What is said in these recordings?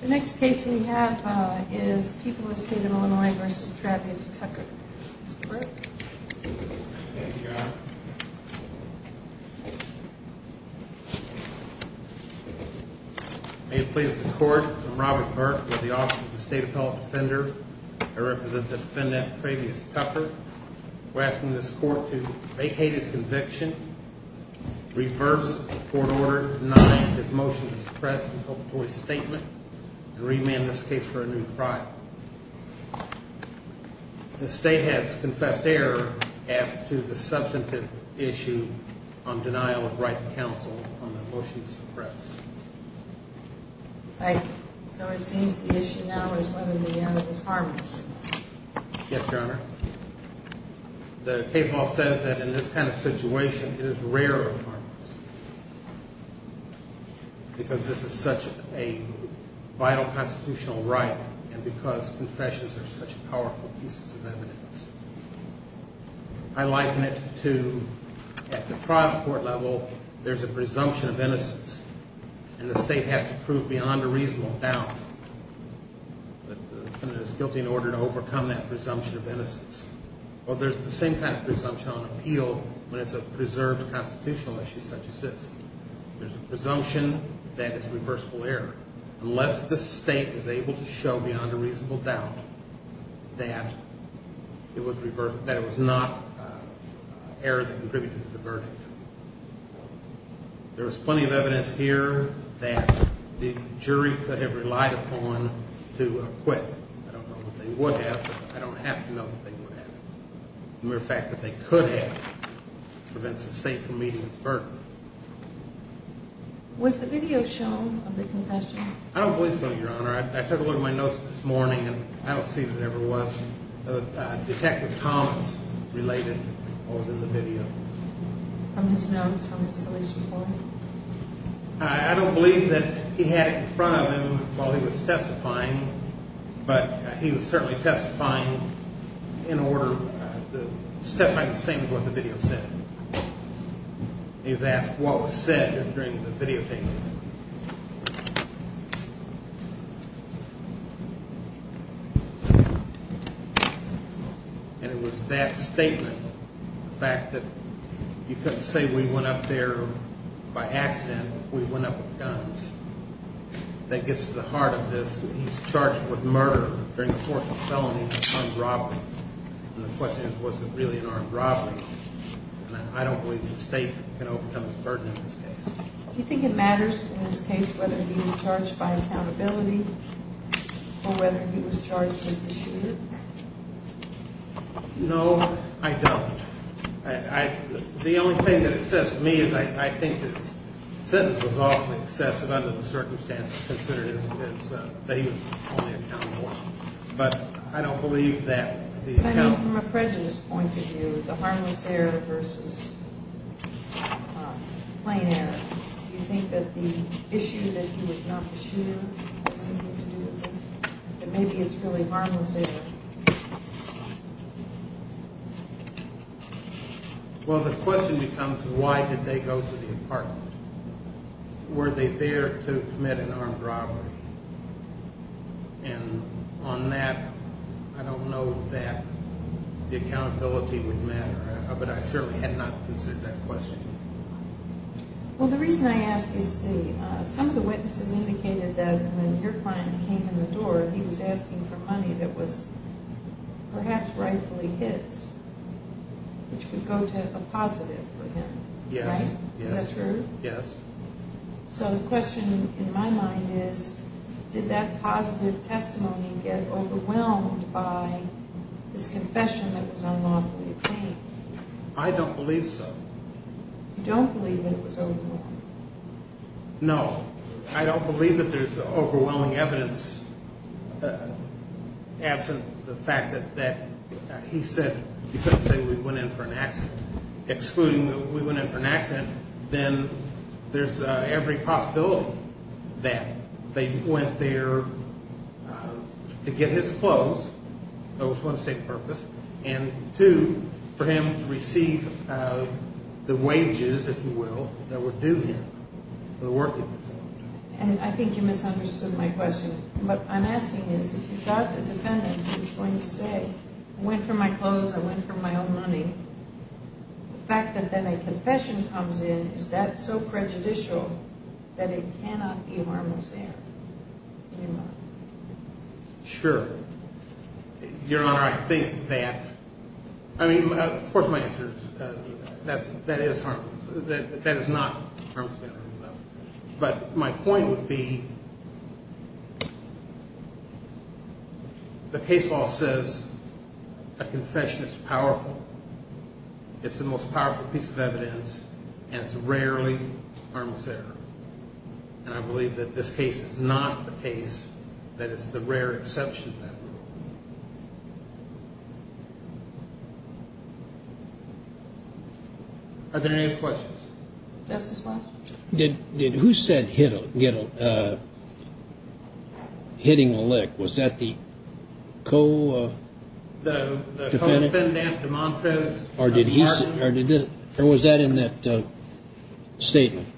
The next case we have is People of the State of Illinois v. Travis Tucker. Mr. Burke. Thank you, Your Honor. May it please the Court, I'm Robert Burke with the Office of the State Appellate Defender. I represent the defendant, Travis Tucker. We're asking this Court to vacate his conviction, reverse the court order denying his motion to suppress the inculpatory statement, and remand this case for a new trial. The State has confessed error as to the substantive issue on denial of right to counsel on the motion to suppress. Thank you. So it seems the issue now is whether the evidence is harmless. Yes, Your Honor. The case law says that in this kind of situation it is rarer. Because this is such a vital constitutional right and because confessions are such powerful pieces of evidence. I liken it to, at the trial court level, there's a presumption of innocence and the State has to prove beyond a reasonable doubt. The defendant is guilty in order to overcome that presumption of innocence. Well, there's the same kind of presumption on appeal when it's a preserved constitutional issue such as this. There's a presumption that it's reversible error unless the State is able to show beyond a reasonable doubt that it was not error that contributed to the verdict. There was plenty of evidence here that the jury could have relied upon to acquit. I don't know that they would have, but I don't have to know that they would have. The mere fact that they could have prevents the State from meeting its burden. Was the video shown of the confession? I don't believe so, Your Honor. I took a look at my notes this morning and I don't see that it ever was. Detective Thomas related what was in the video. From his notes, from his police report? I don't believe that he had it in front of him while he was testifying, but he was certainly testifying in order to testify the same as what the video said. He was asked what was said during the videotaping. And it was that statement, the fact that you couldn't say we went up there by accident, we went up with guns, that gets to the heart of this. He's charged with murder during the course of felony and armed robbery. And the question is was it really an armed robbery? And I don't believe the State can overcome this burden in this case. Do you think it matters in this case whether he was charged by accountability or whether he was charged with the shooter? No, I don't. The only thing that it says to me is I think this sentence was awfully excessive under the circumstances, considering that he was only accountable. But I don't believe that. I mean from a prejudice point of view, the harmless error versus plain error. Do you think that the issue that he was not the shooter has anything to do with this? That maybe it's really harmless error. Well, the question becomes why did they go to the apartment? Were they there to commit an armed robbery? And on that, I don't know that the accountability would matter, but I certainly had not considered that question. Well, the reason I ask is some of the witnesses indicated that when your client came in the door, he was asking for money that was perhaps rightfully his, which could go to a positive for him. Yes, yes. So the question in my mind is did that positive testimony get overwhelmed by this confession that was unlawfully obtained? I don't believe so. You don't believe that it was overwhelmed? No. I don't believe that there's overwhelming evidence absent the fact that he said he couldn't say we went in for an accident, excluding that we went in for an accident. Then there's every possibility that they went there to get his clothes. That was one, to save purpose. And two, for him to receive the wages, if you will, that were due him for the work that he was doing. And I think you misunderstood my question. What I'm asking is, if you got the defendant who was going to say, I went for my clothes, I went for my own money, the fact that then a confession comes in, is that so prejudicial that it cannot be a harmful stand? Sure. Your Honor, I think that, I mean, of course, my answer is that is harmful. That is not a harmful stand. But my point would be, the case law says a confession is powerful. It's the most powerful piece of evidence, and it's rarely harmless error. And I believe that this case is not the case that is the rare exception to that rule. Are there any questions? Justice Walsh? Did, who said hit a, get a, hitting a lick? Was that the co- The co-defendant, DeMontrose? Or did he say, or was that in that statement?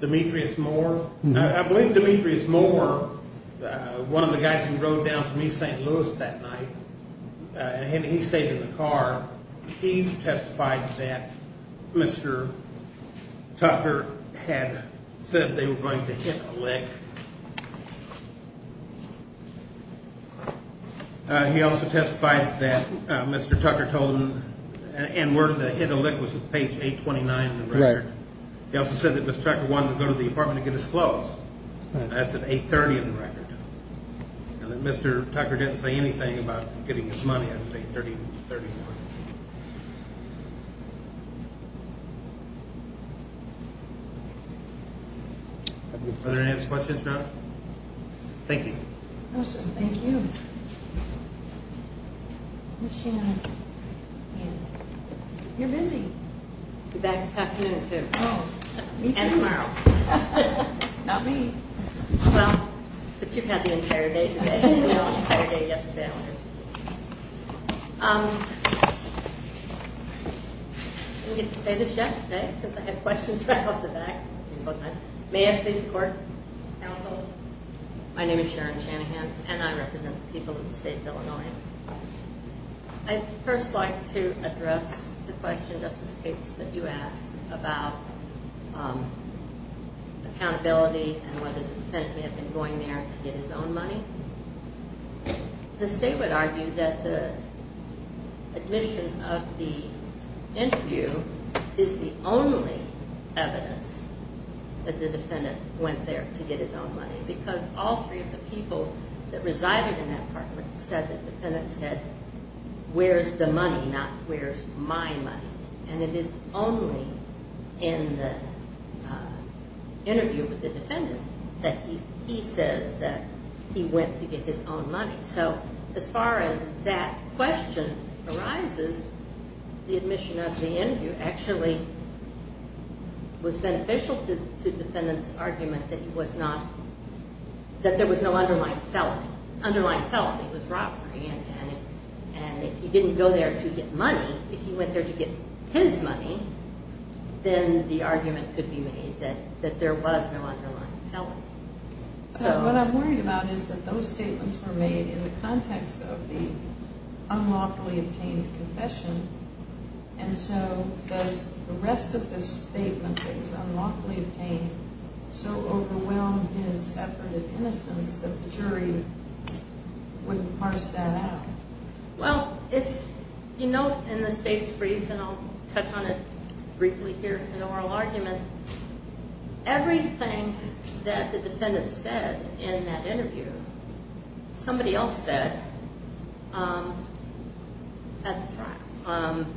Demetrius Moore. I believe Demetrius Moore, one of the guys who drove down from East St. Louis that night, and he stayed in the car. He testified that Mr. Tucker had said they were going to hit a lick. He also testified that Mr. Tucker told him, and where the hit a lick was at page 829 of the record. He also said that Mr. Tucker wanted to go to the apartment to get his clothes. That's at 830 in the record. And that Mr. Tucker didn't say anything about getting his money at 830. Thank you. Are there any other questions now? Thank you. Thank you. You're busy. You're back this afternoon too. Oh, me too. And tomorrow. Not me. Well, but you've had the entire day today, and we all had the entire day yesterday. I didn't get to say this yesterday, since I had questions right off the bat. May I please record? My name is Sharon Shanahan, and I represent the people of the state of Illinois. I'd first like to address the question, Justice Cates, that you asked about accountability and whether the defendant may have been going there to get his own money. The state would argue that the admission of the interview is the only evidence that the defendant went there to get his own money. Because all three of the people that resided in that apartment said that the defendant said, where's the money, not where's my money. And it is only in the interview with the defendant that he says that he went to get his own money. So as far as that question arises, the admission of the interview actually was beneficial to the defendant's argument that there was no underlying felony. It was robbery, and if he didn't go there to get money, if he went there to get his money, then the argument could be made that there was no underlying felony. What I'm worried about is that those statements were made in the context of the unlawfully obtained confession. And so does the rest of the statement that was unlawfully obtained so overwhelm his effort at innocence that the jury wouldn't parse that out? Well, if you note in the state's brief, and I'll touch on it briefly here in oral argument, everything that the defendant said in that interview, somebody else said at the time.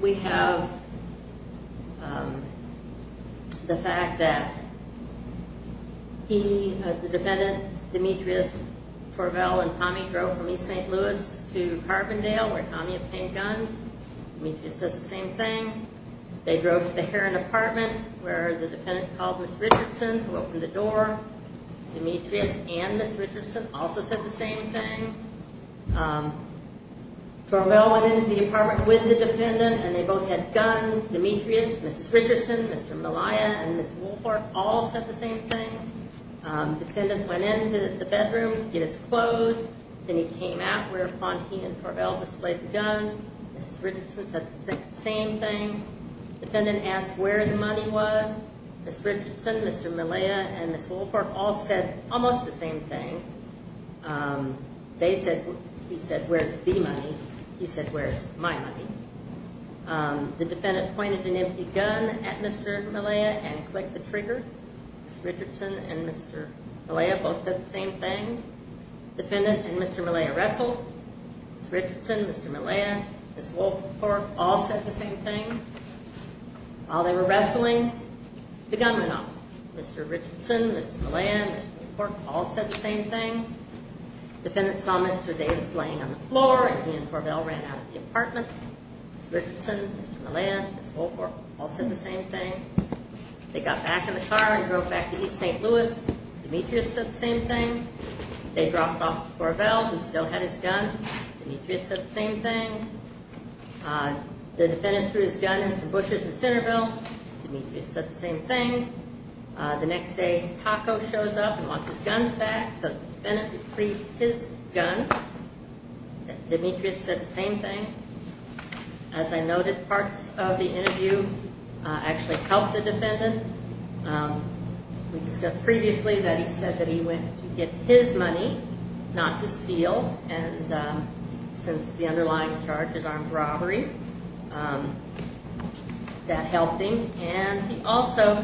We have the fact that he, the defendant, Demetrius Torvell and Tommy drove from East St. Louis to Carbondale where Tommy obtained guns. Demetrius says the same thing. They drove to the Heron apartment where the defendant called Ms. Richardson who opened the door. Demetrius and Ms. Richardson also said the same thing. Torvell went into the apartment with the defendant, and they both had guns. Demetrius, Ms. Richardson, Mr. Malaya, and Ms. Woolfolk all said the same thing. The defendant went into the bedroom to get his clothes, and he came out whereupon he and Torvell displayed the guns. Ms. Richardson said the same thing. The defendant asked where the money was. Ms. Richardson, Mr. Malaya, and Ms. Woolfolk all said almost the same thing. They said, he said, where's the money? He said, where's my money? The defendant pointed an empty gun at Mr. Malaya and clicked the trigger. Ms. Richardson and Mr. Malaya both said the same thing. The defendant and Mr. Malaya wrestled. Ms. Richardson, Mr. Malaya, and Ms. Woolfolk all said the same thing. While they were wrestling, the gun went off. Mr. Richardson, Ms. Malaya, and Ms. Woolfolk all said the same thing. The defendant saw Mr. Davis laying on the floor, and he and Torvell ran out of the apartment. Ms. Richardson, Mr. Malaya, and Ms. Woolfolk all said the same thing. They got back in the car and drove back to East St. Louis. Demetrius said the same thing. They dropped off Torvell, who still had his gun. Demetrius said the same thing. The defendant threw his gun in some bushes in Centerville. Demetrius said the same thing. The next day, Taco shows up and wants his guns back, so the defendant retrieved his gun. Demetrius said the same thing. As I noted, parts of the interview actually helped the defendant. We discussed previously that he said that he went to get his money, not to steal, and since the underlying charge is armed robbery, that helped him. He also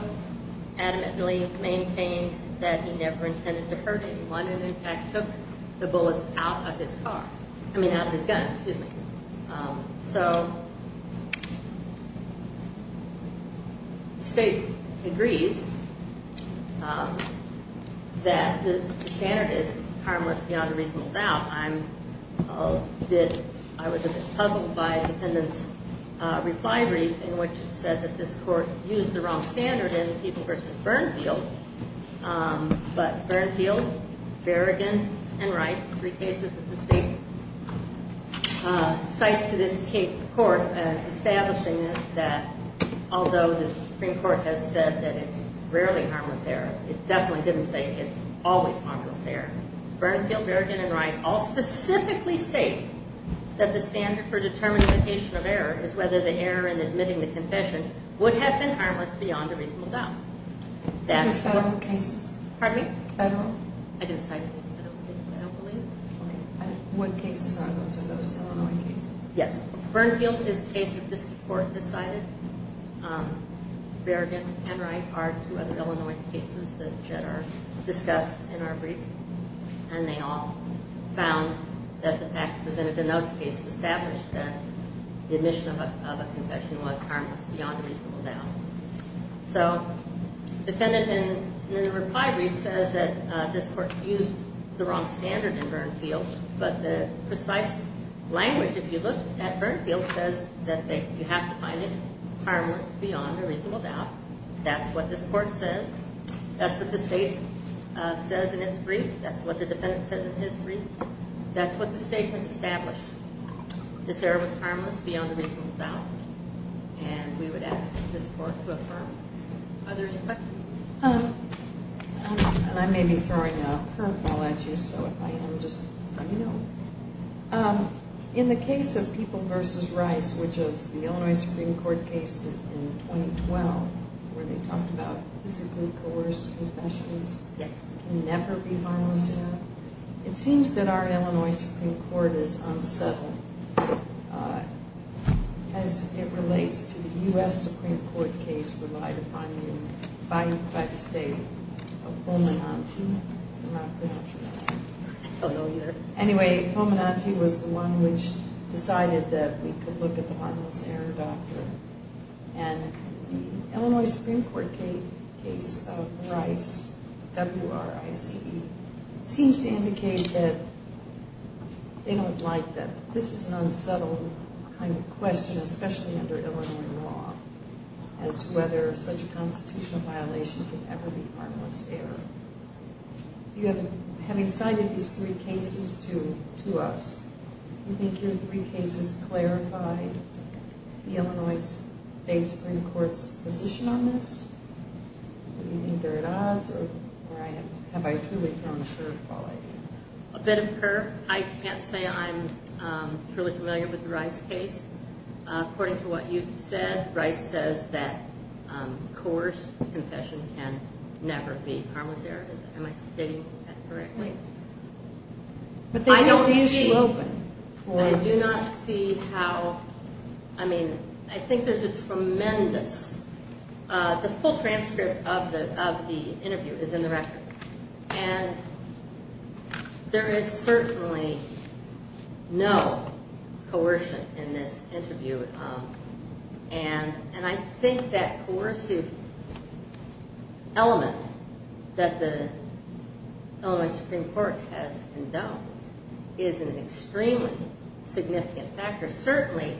adamantly maintained that he never intended to hurt anyone and, in fact, took the bullets out of his car. I mean, out of his gun, excuse me. So, the State agrees that the standard is harmless beyond a reasonable doubt. I was a bit puzzled by the defendant's reply brief, in which it said that this Court used the wrong standard in Eagle v. Burnfield, but Burnfield, Berrigan, and Wright, three cases that the State cites to this court as establishing that, although the Supreme Court has said that it's rarely harmless there, it definitely didn't say it's always harmless there. Burnfield, Berrigan, and Wright all specifically state that the standard for determinification of error is whether the error in admitting the confession would have been harmless beyond a reasonable doubt. That's what... Just federal cases? Pardon me? Federal? I didn't cite any. I don't believe. What cases are those? Are those Illinois cases? Yes. Burnfield is a case that this Court decided. Berrigan and Wright are two other Illinois cases that are discussed in our brief. And they all found that the facts presented in those cases established that the admission of a confession was harmless beyond a reasonable doubt. So the defendant in the reply brief says that this Court used the wrong standard in Burnfield, but the precise language, if you look at Burnfield, says that you have to find it harmless beyond a reasonable doubt. That's what this Court says. That's what the State says in its brief. That's what the defendant says in his brief. That's what the State has established. This error was harmless beyond a reasonable doubt. And we would ask this Court to affirm. Are there any questions? I may be throwing a curveball at you, so if I am, just let me know. In the case of People v. Rice, which is the Illinois Supreme Court case in 2012, where they talked about physically coerced confessions, it can never be harmless error, it seems that our Illinois Supreme Court is unsettled as it relates to the U.S. Supreme Court case relied upon by the State of Pomenante. I'm not pretty much sure. I don't know either. Anyway, Pomenante was the one which decided that we could look at the harmless error doctrine. And the Illinois Supreme Court case of Rice, W-R-I-C-E, seems to indicate that they don't like that this is an unsettled kind of question, especially under Illinois law, as to whether such a constitutional violation can ever be harmless error. Having cited these three cases to us, do you think your three cases clarify the Illinois State Supreme Court's position on this? Do you think they're at odds, or have I truly thrown a curveball at you? A bit of a curve. I can't say I'm truly familiar with the Rice case. According to what you've said, Rice says that coerced confession can never be harmless error. Am I stating that correctly? I don't see... I do not see how... I mean, I think there's a tremendous... The full transcript of the interview is in the record. And there is certainly no coercion in this interview. And I think that coercive element that the Illinois Supreme Court has endowed is an extremely significant factor. Certainly,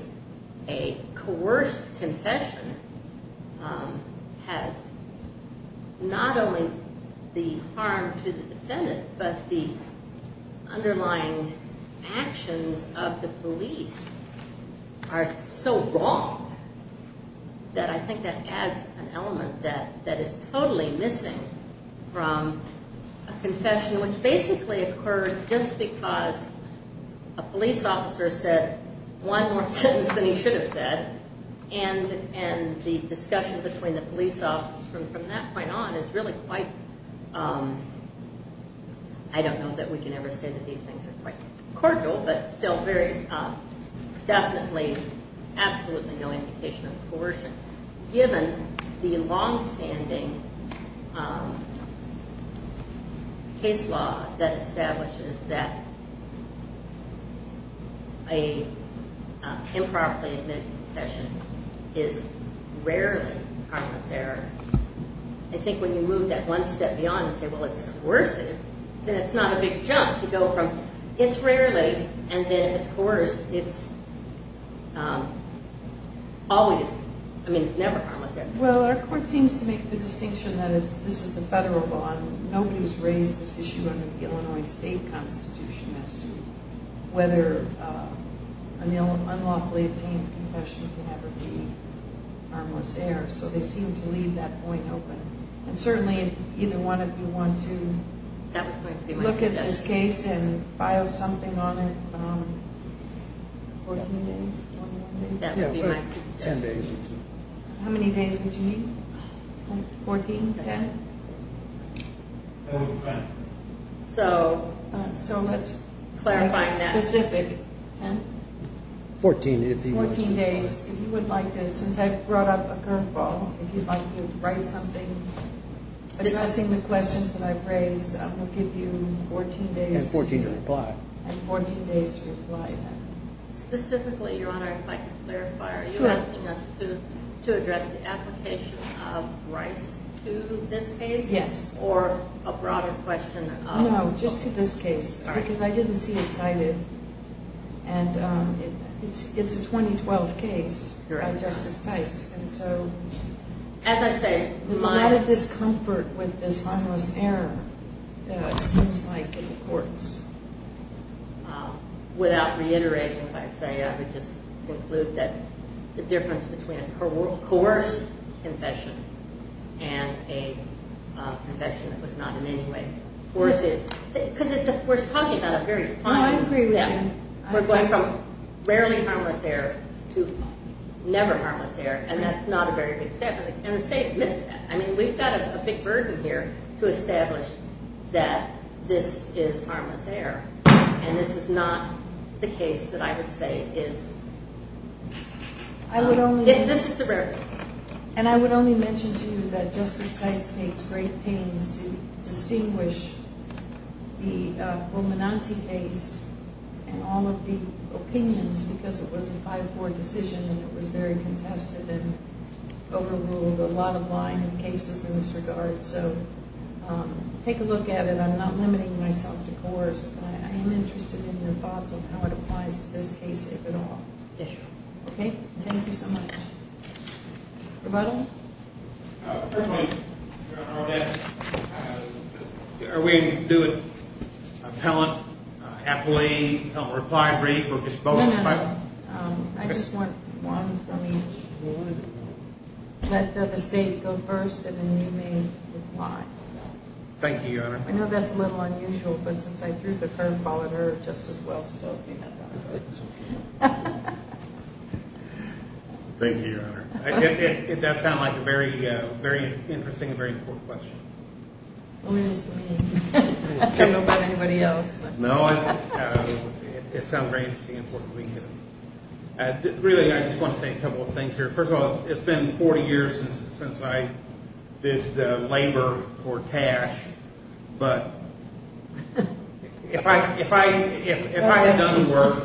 a coerced confession has not only the harm to the defendant, but the underlying actions of the police are so wrong that I think that adds an element that is totally missing from a confession which basically occurred just because a police officer said one more sentence than he should have said. And the discussion between the police officers from that point on is really quite... I don't know that we can ever say that these things are quite cordial, but still definitely absolutely no indication of coercion. Given the longstanding case law that establishes that an improperly admitted confession is rarely harmless error, I think when you move that one step beyond and say, well, it's coercive, then it's not a big jump to go from, it's rarely, and then it's coerced, it's always... I mean, it's never harmless error. Well, our court seems to make the distinction that this is the federal law and nobody's raised this issue under the Illinois state constitution as to whether an unlawfully obtained confession can ever be harmless error. So they seem to leave that point open. And certainly if either one of you want to look at this case and file something on it... 14 days? Yeah, 10 days or so. How many days would you need? 14? 10? 10. So let's clarify that. 10? 14, if you wish. 14 days, if you would like to, since I brought up a curveball, if you'd like to write something addressing the questions that I've raised, I'm going to give you 14 days. And 14 to reply. And 14 days to reply. Specifically, Your Honor, if I could clarify, are you asking us to address the application of Rice to this case? Yes. Or a broader question of... No, just to this case, because I didn't see it cited. And it's a 2012 case by Justice Tice. And so... As I say, my... There's a lot of discomfort with this harmless error. It seems like in the courts. Without reiterating what I say, I would just conclude that the difference between a coerced confession and a confession that was not in any way coerced... Because we're talking about a very final... I agree with you. We're going from rarely harmless error to never harmless error. And that's not a very good step. And the state admits that. I mean, we've got a big burden here to establish that this is harmless error. And this is not the case that I would say is... I would only... This is the rare case. And I would only mention to you that Justice Tice takes great pains to distinguish the Fulminante case and all of the opinions because it was a 5-4 decision and it was very contested and overruled. A lot of lying in cases in this regard. So take a look at it. I'm not limiting myself to coerce. I am interested in your thoughts on how it applies to this case, if at all. Yes, Your Honor. Okay? Thank you so much. Rebuttal? First of all, Your Honor, are we doing appellant, appellee, appellant reply brief, or just both? No, no, no. I just want one from each. Let the state go first and then you may reply. Thank you, Your Honor. I know that's a little unusual, but since I threw the curveball at her, Justice Welch told me not to. That's okay. Thank you, Your Honor. It does sound like a very interesting and very important question. Only this to me. I don't know about anybody else. No, it sounds very interesting and important to me, too. Really, I just want to say a couple of things here. First of all, it's been 40 years since I did labor for cash, but if I had done the work,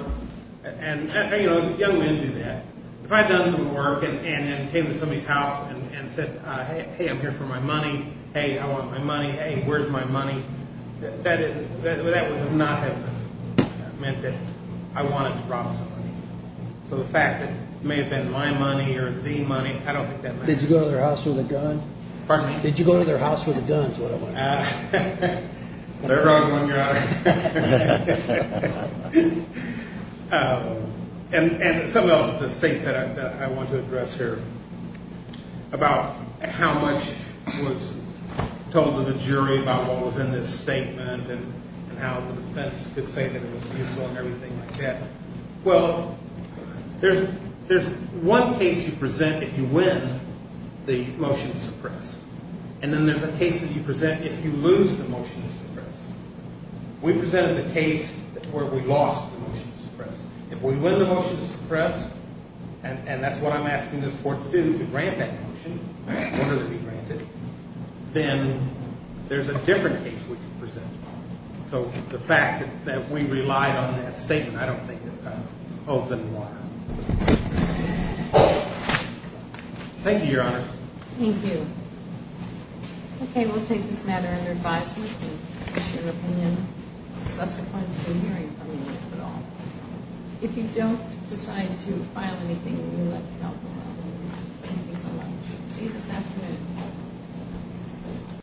and, you know, young men do that. If I had done the work and came to somebody's house and said, hey, I'm here for my money, hey, I want my money, hey, where's my money? That would not have meant that I wanted to rob somebody. So the fact that it may have been my money or the money, I don't think that matters. Did you go to their house with a gun? Pardon me? Did you go to their house with a gun is what I want to know. There goes one, Your Honor. And some of the things that I want to address here about how much was told to the jury about what was in this statement and how the defense could say that it was useful and everything like that. Well, there's one case you present if you win the motion to suppress, and then there's a case that you present if you lose the motion to suppress. We presented the case where we lost the motion to suppress. If we win the motion to suppress, and that's what I'm asking this court to do, to grant that motion, sooner than we grant it, then there's a different case we can present. So the fact that we relied on that statement, I don't think it holds any water. Thank you, Your Honor. Thank you. Okay, we'll take this matter under advisement. I'd like to share an opinion subsequent to hearing from you, if at all. If you don't decide to file anything, we would like to help you out. Thank you so much. See you this afternoon.